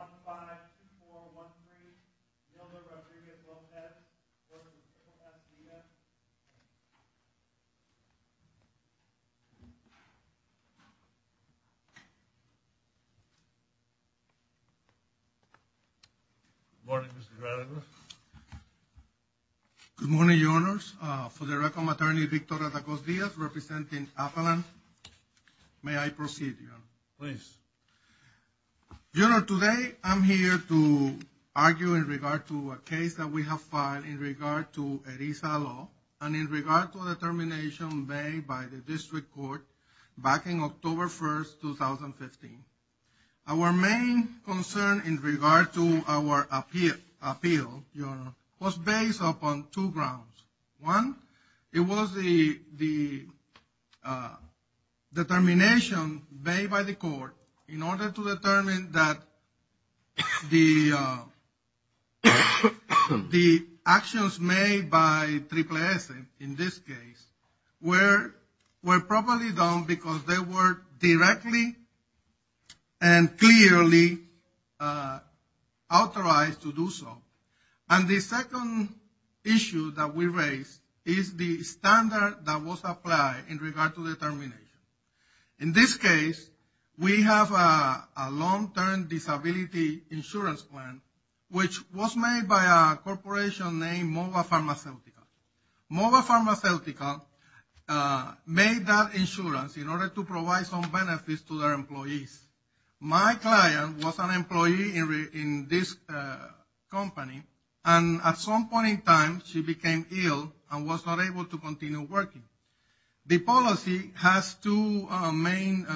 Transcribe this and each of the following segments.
On the 5, 2, 4, 1, 3, Mildred Rodriguez-Lopez, v. Triple-S Vida. Good morning, Mr. Gradovich. Good morning, Your Honors. For the record, I'm Attorney Victor Atacos Diaz, representing Avalon. May I proceed, Your Honor? Please. Your Honor, today I'm here to argue in regard to a case that we have filed in regard to ERISA law, and in regard to a determination made by the District Court back in October 1st, 2015. Our main concern in regard to our appeal, Your Honor, was based upon two grounds. One, it was the determination made by the court in order to determine that the actions made by Triple-S, in this case, were properly done because they were directly and clearly authorized to do so. And the second issue that we raised is the standard that was applied in regard to determination. In this case, we have a long-term disability insurance plan, which was made by a corporation named Mova Pharmaceutical. Mova Pharmaceutical made that insurance in order to provide some benefits to their employees. My client was an employee in this company, and at some point in time, she became ill and was not able to continue working. The policy has two main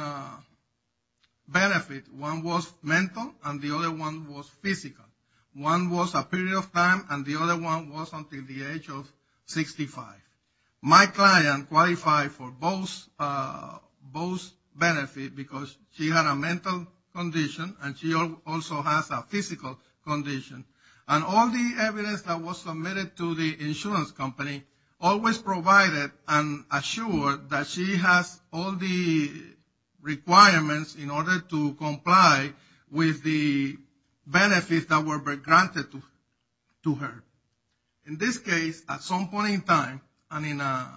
benefits. One was mental, and the other one was physical. One was a period of time, and the other one was until the age of 65. My client qualified for both benefits because she had a mental condition, and she also has a physical condition. And all the evidence that was submitted to the insurance company always provided and assured that she has all the requirements in order to comply with the benefits that were granted to her. In this case, at some point in time, and in a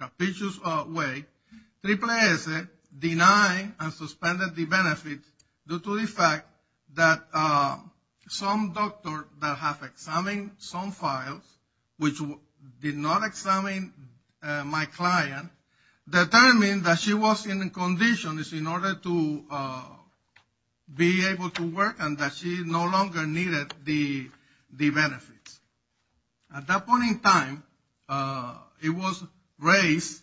capitious way, AAAS denied and suspended the benefits due to the fact that some doctors that have examined some files, which did not examine my client, determined that she was in a condition in order to be able to work and that she no longer needed the benefits. At that point in time, it was raised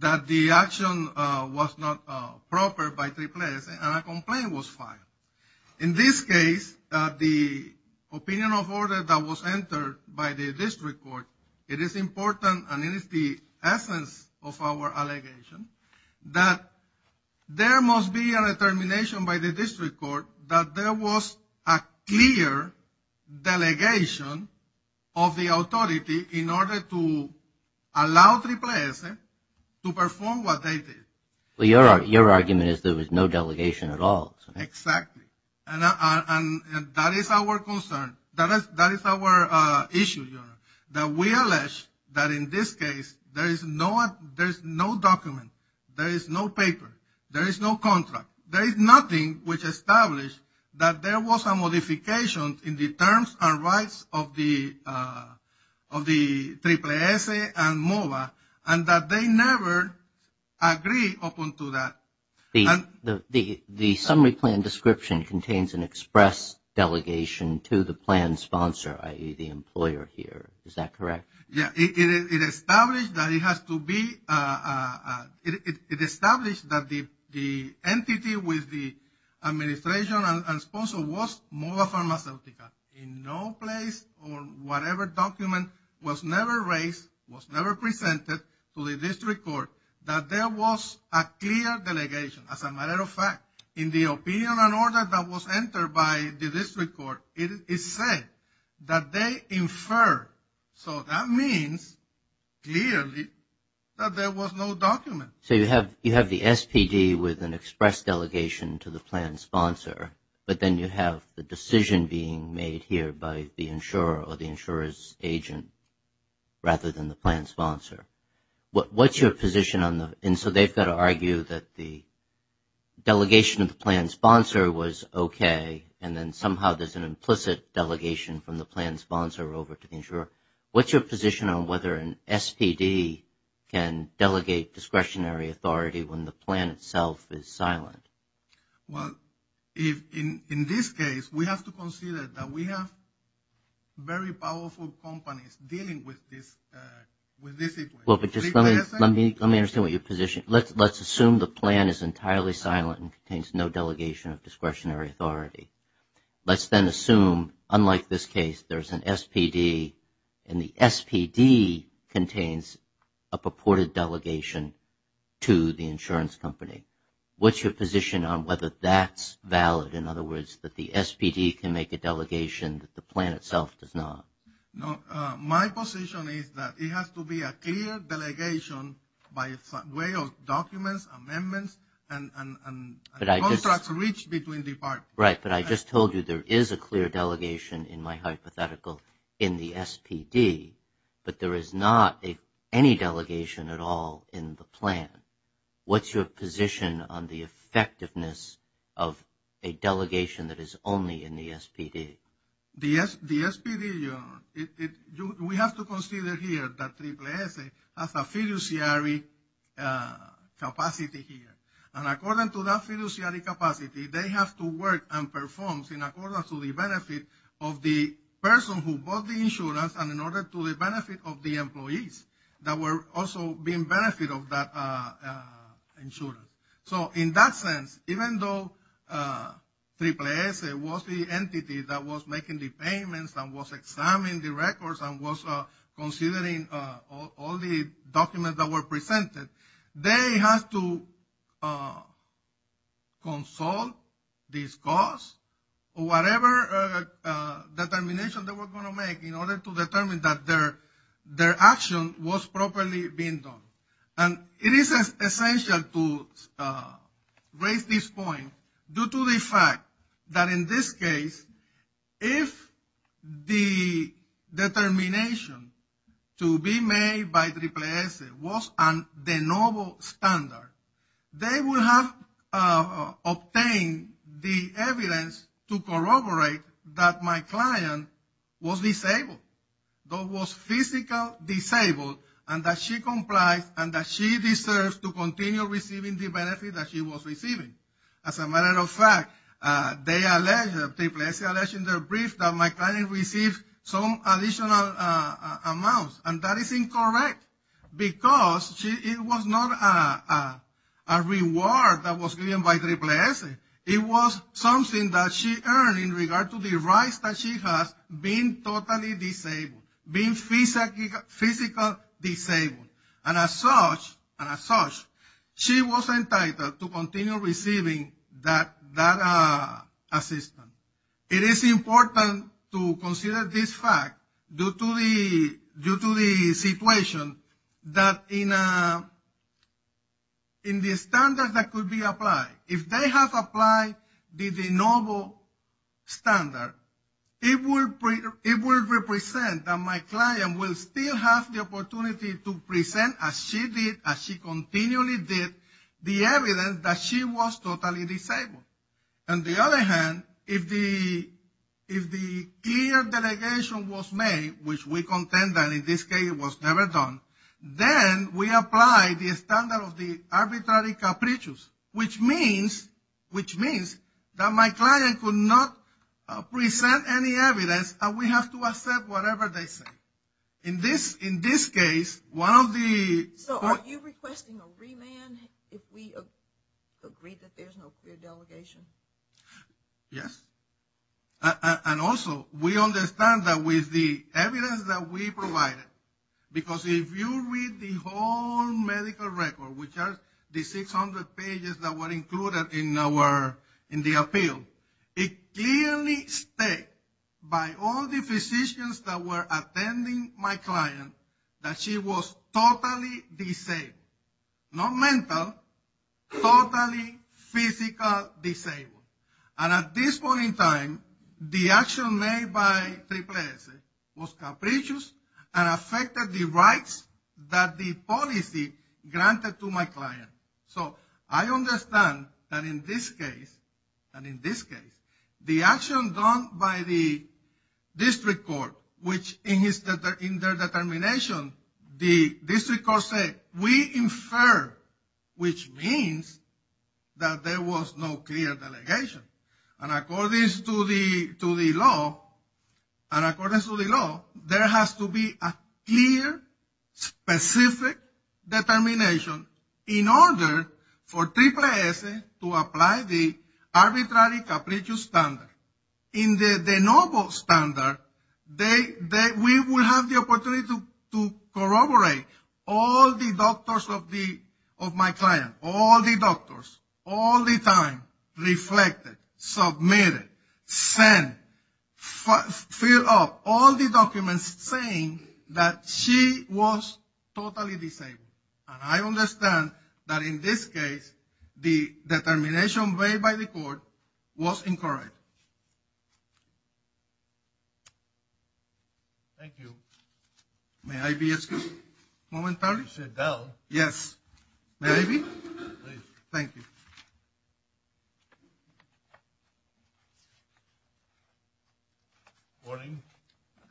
that the action was not proper by AAAS, and a complaint was filed. In this case, the opinion of order that was entered by the district court, it is important, and it is the essence of our allegation, that there must be a determination by the district court that there was a clear delegation of the authority in order to allow AAAS to perform what they did. Your argument is there was no delegation at all. Exactly. And that is our concern. That is our issue. We allege that in this case, there is no document, there is no paper, there is no contract. There is nothing which established that there was a modification in the terms and rights of the AAAS and MOVA, and that they never agreed upon to that. The summary plan description contains an express delegation to the plan sponsor, i.e., the employer here. Is that correct? Yes. It established that it has to be, it established that the entity with the administration and sponsor was MOVA Pharmaceutical. In no place or whatever document was never raised, was never presented to the district court, that there was a clear delegation. As a matter of fact, in the opinion and order that was entered by the district court, it is said that they inferred. So that means clearly that there was no document. So you have the SPD with an express delegation to the plan sponsor, but then you have the decision being made here by the insurer or the insurer's agent rather than the plan sponsor. What's your position on the, and so they've got to argue that the delegation of the plan sponsor was okay, and then somehow there's an implicit delegation from the plan sponsor over to the insurer. What's your position on whether an SPD can delegate discretionary authority when the plan itself is silent? Well, in this case, we have to consider that we have very powerful companies dealing with this issue. Well, but just let me understand what your position is. Let's assume the plan is entirely silent and contains no delegation of discretionary authority. Let's then assume, unlike this case, there's an SPD, and the SPD contains a purported delegation to the insurance company. What's your position on whether that's valid? In other words, that the SPD can make a delegation that the plan itself does not? No, my position is that it has to be a clear delegation by way of documents, amendments, and contracts reached between departments. Right, but I just told you there is a clear delegation in my hypothetical in the SPD, but there is not any delegation at all in the plan. What's your position on the effectiveness of a delegation that is only in the SPD? The SPD, we have to consider here that Triple S has a fiduciary capacity here. And according to that fiduciary capacity, they have to work and perform in accordance to the benefit of the person who bought the insurance and in order to the benefit of the employees that were also being benefit of that insurance. So in that sense, even though Triple S was the entity that was making the payments and was examining the records and was considering all the documents that were presented, they have to consult, discuss, or whatever determination they were going to make in order to determine that their action was properly being done. And it is essential to raise this point due to the fact that in this case, if the determination to be made by Triple S was a de novo standard, they would have obtained the evidence to corroborate that my client was disabled. That was physically disabled and that she complies and that she deserves to continue receiving the benefit that she was receiving. As a matter of fact, they alleged, Triple S alleged in their brief that my client received some additional amounts. And that is incorrect because it was not a reward that was given by Triple S. It was something that she earned in regard to the rights that she has being totally disabled, being physically disabled. And as such, she was entitled to continue receiving that assistance. It is important to consider this fact due to the situation that in the standard that could be applied, if they have applied the de novo standard, it will represent that my client will still have the opportunity to present as she did, as she continually did, the evidence that she was totally disabled. On the other hand, if the clear delegation was made, which we contend that in this case was never done, then we apply the standard of the arbitrary capricious, which means that my client could not present any evidence and we have to accept whatever they say. In this case, one of the... So are you requesting a remand if we agree that there is no clear delegation? Yes. And also, we understand that with the evidence that we provided, because if you read the whole medical record, which are the 600 pages that were included in the appeal, it clearly states by all the physicians that were attending my client that she was totally disabled. Not mental, totally physically disabled. And at this point in time, the action made by Triple S was capricious and affected the rights that the policy granted to my client. So I understand that in this case, and in this case, the action done by the district court, which in their determination, the district court said, we infer, which means that there was no clear delegation. And according to the law, there has to be a clear, specific determination in order for Triple S to apply the arbitrary capricious standard. In the noble standard, we will have the opportunity to corroborate all the doctors of my client. All the doctors, all the time, reflected, submitted, sent, filled up, all the documents saying that she was totally disabled. And I understand that in this case, the determination made by the court was incorrect. Thank you. May I be excused momentarily? Sit down. Yes. May I be? Please. Thank you. Morning.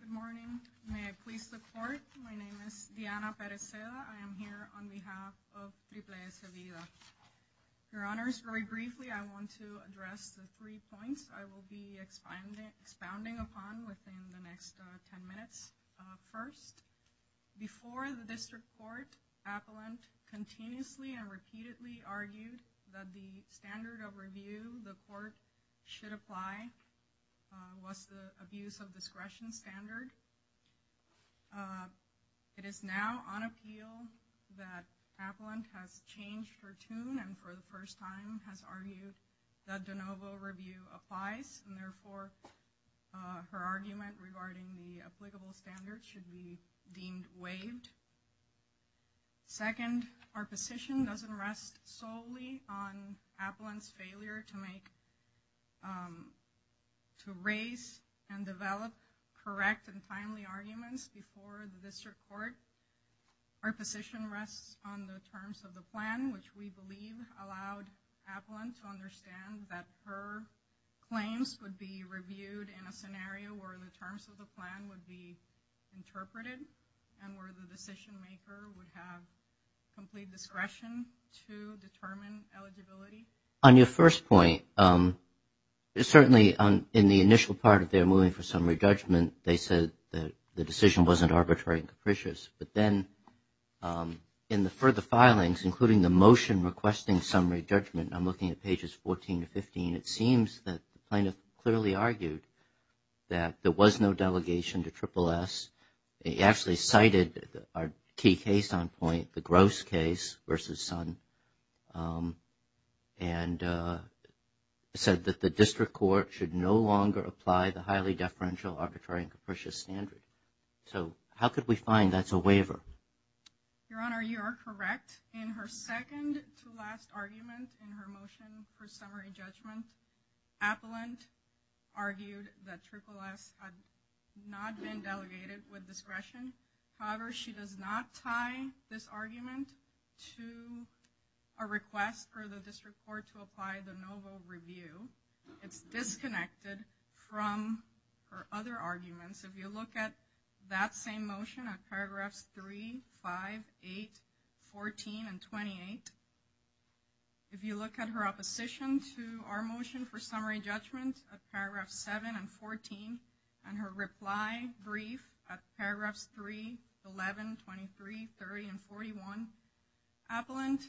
Good morning. May I please the court? My name is Diana Pereceda. I am here on behalf of Triple S Evida. Your honors, very briefly, I want to address the three points I will be expounding upon within the next 10 minutes. First, before the district court, appellant continuously and repeatedly argued that the standard of review the court should apply was the abuse of discretion standard. It is now on appeal that appellant has changed her tune and for the first time has argued that de novo review applies, and therefore her argument regarding the applicable standard should be deemed waived. Second, our position doesn't rest solely on appellant's failure to make, to raise and develop correct and timely arguments before the district court. Our position rests on the terms of the plan, which we believe allowed appellant to understand that her claims would be reviewed in a scenario where the terms of the plan would be interpreted and where the decision maker would have complete discretion to determine eligibility. On your first point, certainly in the initial part of their moving for summary judgment, they said the decision wasn't arbitrary and capricious, but then in the further filings, including the motion requesting summary judgment, I'm looking at pages 14 to 15, it seems that the plaintiff clearly argued that there was no delegation to Triple S. They actually cited our key case on point, the Grouse case versus Sun, and said that the district court should no longer apply the highly deferential, arbitrary, and capricious standard. So how could we find that's a waiver? Your Honor, you are correct. In her second to last argument in her motion for summary judgment, appellant argued that Triple S had not been delegated with discretion. However, she does not tie this argument to a request for the district court to apply the NOVO review. It's disconnected from her other arguments. If you look at that same motion at paragraphs 3, 5, 8, 14, and 28, if you look at her opposition to our motion for summary judgment at paragraphs 7 and 14, and her reply brief at paragraphs 3, 11, 23, 30, and 41, appellant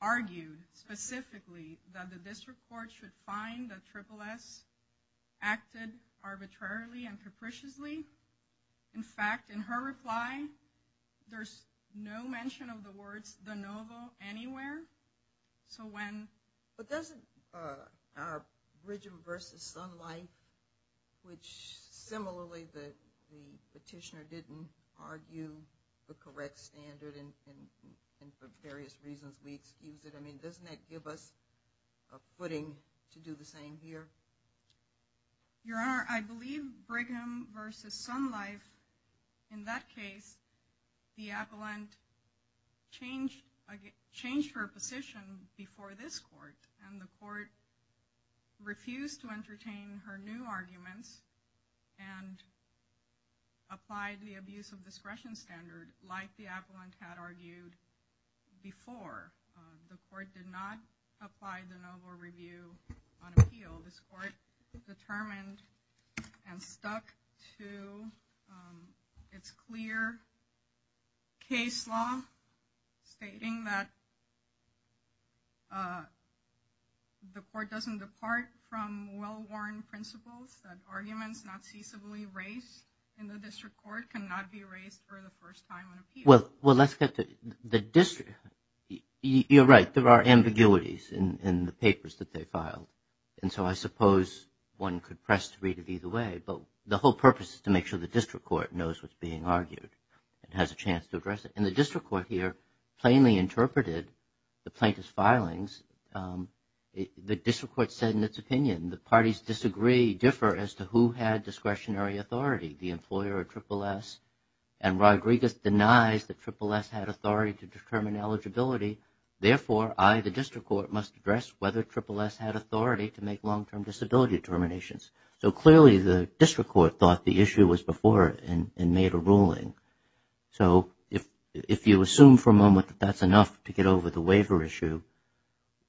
argued specifically that the district court should find that Triple S acted arbitrarily and capriciously. In fact, in her reply, there's no mention of the words the NOVO anywhere. But doesn't our Brigham versus Sun Life, which similarly the petitioner didn't argue the correct standard, and for various reasons we excuse it, doesn't that give us a footing to do the same here? Your Honor, I believe Brigham versus Sun Life, in that case, the appellant changed her position before this court, and the court refused to entertain her new arguments and applied the abuse of discretion standard like the appellant had argued before. The court did not apply the NOVO review on appeal. This court determined and stuck to its clear case law, stating that the court doesn't depart from well-worn principles, that arguments not ceasably raised in the district court cannot be raised for the first time on appeal. Well, let's get to the district. You're right, there are ambiguities in the papers that they filed. And so I suppose one could press to read it either way, but the whole purpose is to make sure the district court knows what's being argued and has a chance to address it. And the district court here plainly interpreted the plaintiff's filings. The district court said in its opinion the parties disagree, differ as to who had discretionary authority, the employer or Triple S. And Rodriguez denies that Triple S had authority to determine eligibility. Therefore, I, the district court, must address whether Triple S had authority to make long-term disability determinations. So clearly the district court thought the issue was before it and made a ruling. So if you assume for a moment that that's enough to get over the waiver issue,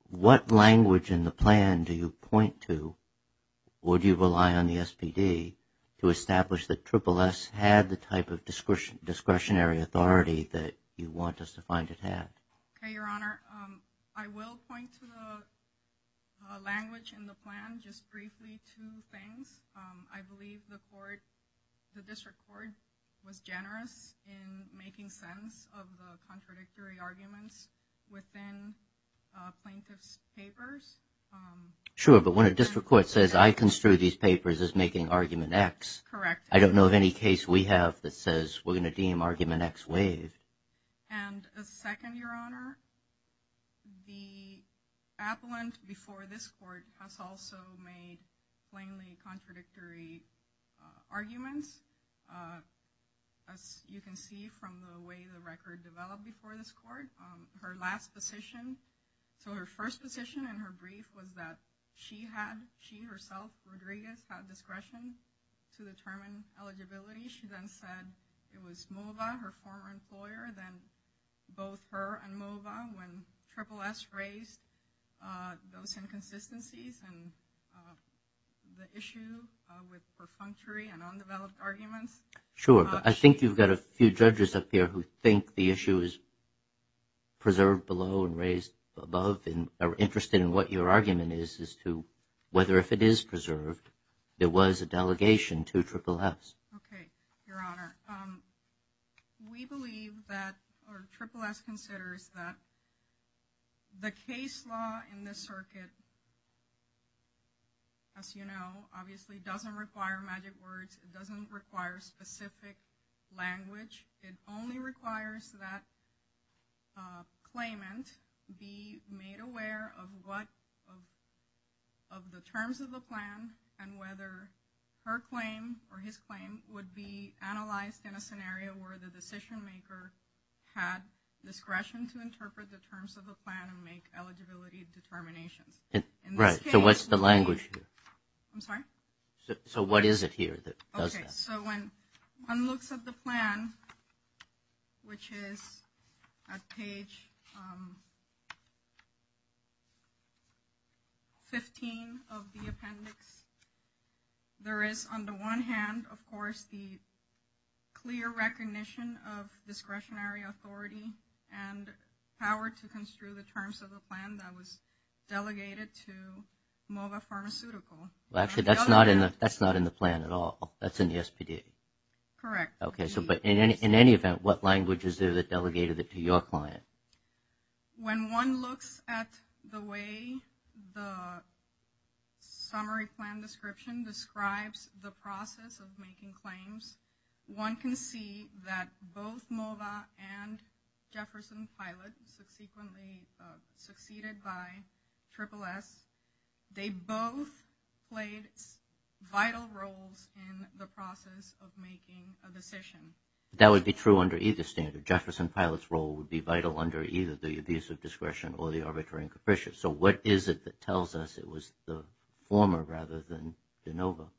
what language in the plan do you point to or do you rely on the SPD to establish that Triple S had the type of discretionary authority that you want us to find it had? Okay, Your Honor, I will point to the language in the plan just briefly two things. I believe the court, the district court, was generous in making sense of the contradictory arguments within plaintiff's papers. Sure, but when a district court says I construe these papers as making argument X, I don't know of any case we have that says we're going to deem argument X waived. And a second, Your Honor, the appellant before this court has also made plainly contradictory arguments. As you can see from the way the record developed before this court, her last position, so her first position in her brief was that she herself, Rodriguez, had discretion to determine eligibility. She then said it was Mova, her former employer, then both her and Mova when Triple S raised those inconsistencies and the issue with perfunctory and undeveloped arguments. Sure, but I think you've got a few judges up here who think the issue is preserved below and raised above and are interested in what your argument is as to whether if it is preserved there was a delegation to Triple S. Okay, Your Honor, we believe that, or Triple S considers that the case law in this circuit, as you know, obviously doesn't require magic words. It doesn't require specific language. It only requires that claimant be made aware of what of the terms of the plan and whether her claim or his claim would be analyzed in a scenario where the decision maker had discretion to interpret the terms of the plan and make eligibility determinations. Right, so what's the language here? I'm sorry? So what is it here that does that? Okay, so when one looks at the plan, which is at page 15 of the appendix, there is on the one hand, of course, the clear recognition of discretionary authority and power to construe the terms of the plan that was delegated to MOVA Pharmaceutical. Well, actually, that's not in the plan at all. That's in the SPD. Correct. Okay, so but in any event, what language is there that delegated it to your client? When one looks at the way the summary plan description describes the process of making claims, one can see that both MOVA and Jefferson Pilot, subsequently succeeded by SSS, they both played vital roles in the process of making a decision. That would be true under either standard. Jefferson Pilot's role would be vital under either the abuse of discretion or the arbitrary and capricious. So what is it that tells us it was the former rather than de novo?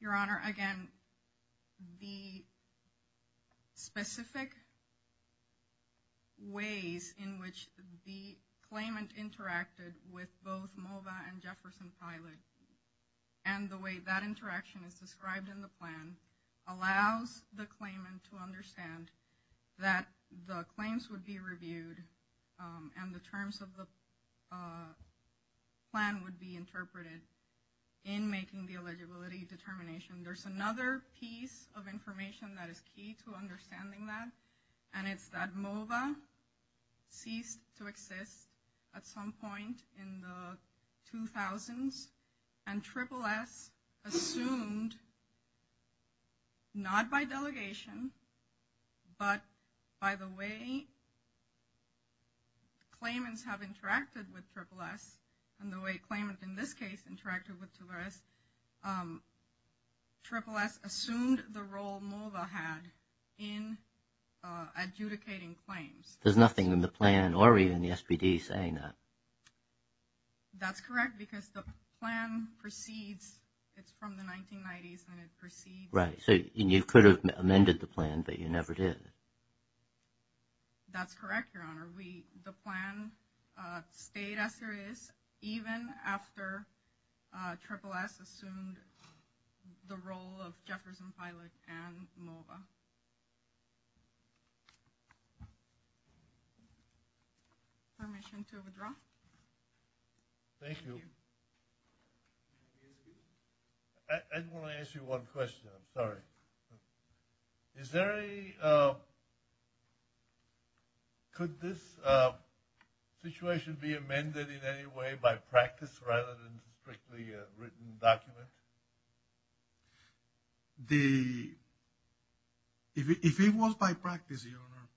Your Honor, again, the specific ways in which the claimant interacted with both MOVA and Jefferson Pilot and the way that interaction is described in the plan allows the claimant to understand that the claims would be reviewed and the terms of the plan would be interpreted in making the eligibility determination. There's another piece of information that is key to understanding that, and it's that MOVA ceased to exist at some point in the 2000s, and SSS assumed not by delegation, but by the way claimants have interacted with SSS and the way claimant in this case interacted with SSS, SSS assumed the role MOVA had in adjudicating claims. There's nothing in the plan or even the SPD saying that. That's correct because the plan proceeds, it's from the 1990s and it proceeds. Right, so you could have amended the plan, but you never did. That's correct, Your Honor. The plan stayed as it is even after SSS assumed the role of Jefferson Pilot and MOVA. Permission to withdraw? Thank you. I just want to ask you one question, I'm sorry. Is there any, could this situation be amended in any way by practice rather than strictly written document? If it was by practice, Your Honor,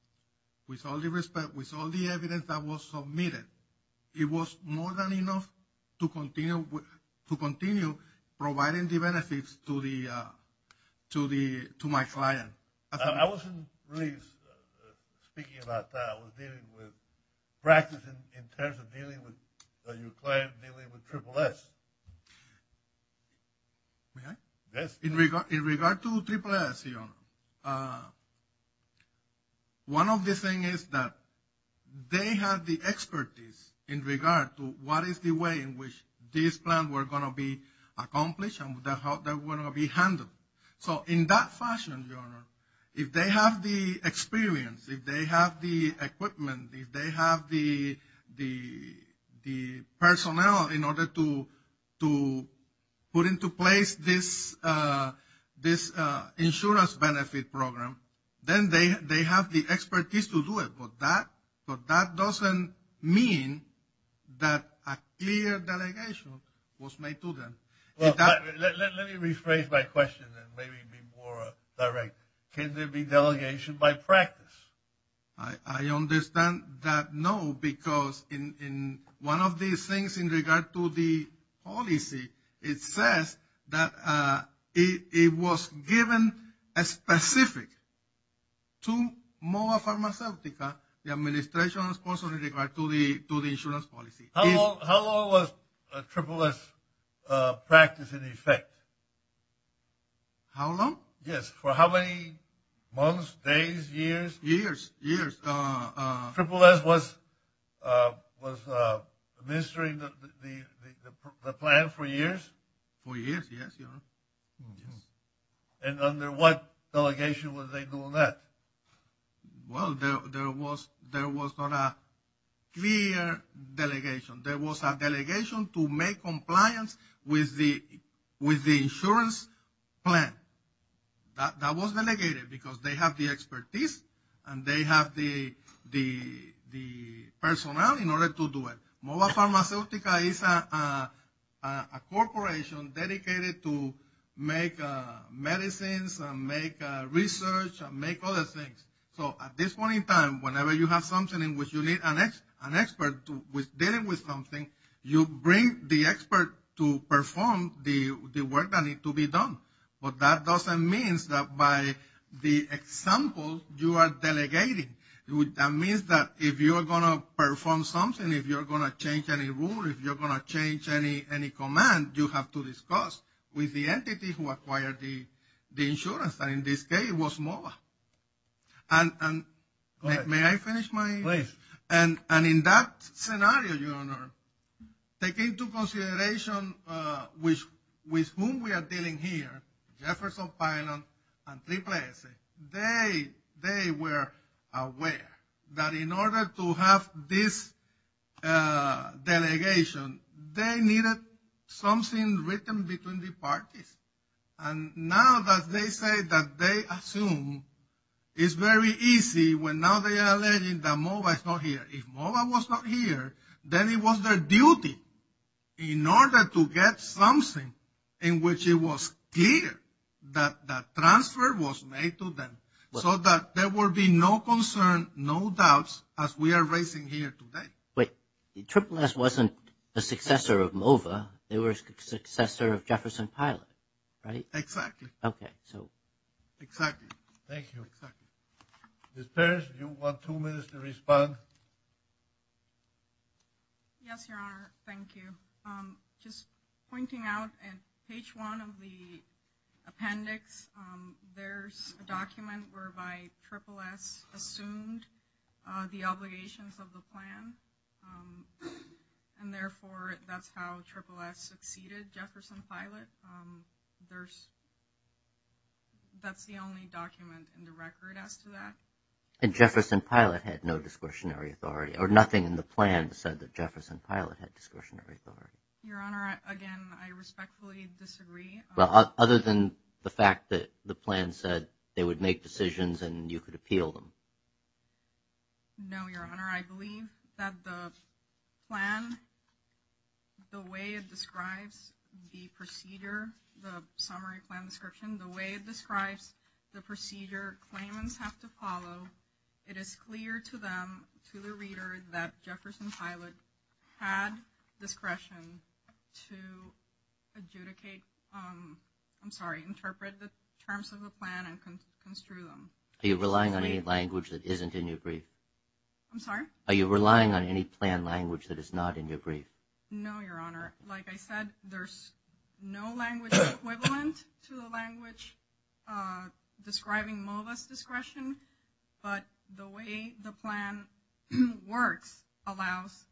with all the respect, with all the evidence that was submitted, it was more than enough to continue providing the benefits to my client. I wasn't really speaking about that. I was dealing with practice in terms of dealing with your client dealing with SSS. In regard to SSS, Your Honor, one of the things is that they have the expertise in regard to what is the way in which this plan was going to be accomplished and how that was going to be handled. So in that fashion, Your Honor, if they have the experience, if they have the equipment, if they have the personnel in order to put into place this insurance benefit program, then they have the expertise to do it. But that doesn't mean that a clear delegation was made to them. Let me rephrase my question and maybe be more direct. Can there be delegation by practice? I understand that no, because in one of these things in regard to the policy, it says that it was given a specific to Moa Pharmaceutica, the administration, also in regard to the insurance policy. How long was SSS practice in effect? How long? Yes, for how many months, days, years? Years, years. SSS was administering the plan for years? For years, yes, Your Honor. And under what delegation was they doing that? Well, there was not a clear delegation. There was a delegation to make compliance with the insurance plan. That was delegated because they have the expertise and they have the personnel in order to do it. Moa Pharmaceutica is a corporation dedicated to make medicines, make research, make other things. So at this point in time, whenever you have something in which you need an expert dealing with something, you bring the expert to perform the work that needs to be done. But that doesn't mean that by the example you are delegating. That means that if you are going to perform something, if you are going to change any rule, if you are going to change any command, you have to discuss with the entity who acquired the insurance. And in this case, it was Moa. And may I finish my? Please. And in that scenario, Your Honor, taking into consideration with whom we are dealing here, Jefferson Pilon and Triple S, they were aware that in order to have this delegation, they needed something written between the parties. And now that they say that they assume it's very easy when now they are alleging that Moa is not here. If Moa was not here, then it was their duty in order to get something in which it was clear that that transfer was made to them so that there would be no concern, no doubts as we are raising here today. Wait. Triple S wasn't a successor of Moa. They were a successor of Jefferson Pilon, right? Exactly. Okay. So. Exactly. Thank you. Ms. Perez, do you want two minutes to respond? Yes, Your Honor. Thank you. Just pointing out in page one of the appendix, there's a document whereby Triple S assumed the obligations of the plan. And therefore, that's how Triple S succeeded Jefferson Pilon. But that's the only document in the record as to that. And Jefferson Pilon had no discretionary authority or nothing in the plan said that Jefferson Pilon had discretionary authority. Your Honor, again, I respectfully disagree. Well, other than the fact that the plan said they would make decisions and you could appeal them. No, Your Honor, I believe that the plan, the way it describes the procedure, the summary plan description, the way it describes the procedure, claimants have to follow. It is clear to them, to the reader, that Jefferson Pilon had discretion to adjudicate, I'm sorry, interpret the terms of the plan and construe them. Are you relying on any language that isn't in your brief? I'm sorry? Are you relying on any plan language that is not in your brief? No, Your Honor. Like I said, there's no language equivalent to the language describing MOVA's discretion. But the way the plan works allows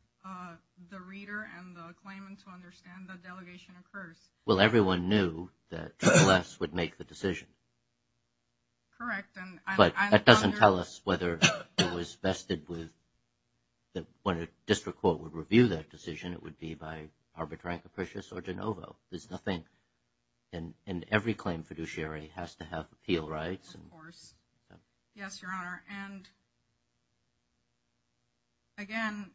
the reader and the claimant to understand that delegation occurs. Well, everyone knew that Triple S would make the decision. Correct. But that doesn't tell us whether it was vested with, when a district court would review that decision, it would be by Arbitrary Capricious or De Novo. There's nothing, and every claim fiduciary has to have appeal rights. Yes, Your Honor. And, again,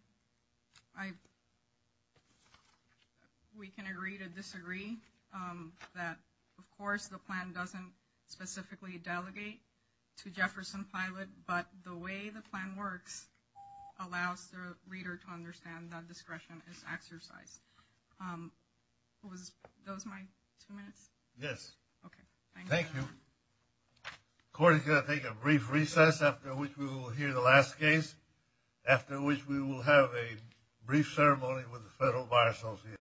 we can agree to disagree that, of course, the plan doesn't specifically delegate to Jefferson Pilon, but the way the plan works allows the reader to understand that discretion is exercised. Was those my two minutes? Okay. Thank you. Thank you. Court is going to take a brief recess after which we will hear the last case, after which we will have a brief ceremony with the Federal Bar Association.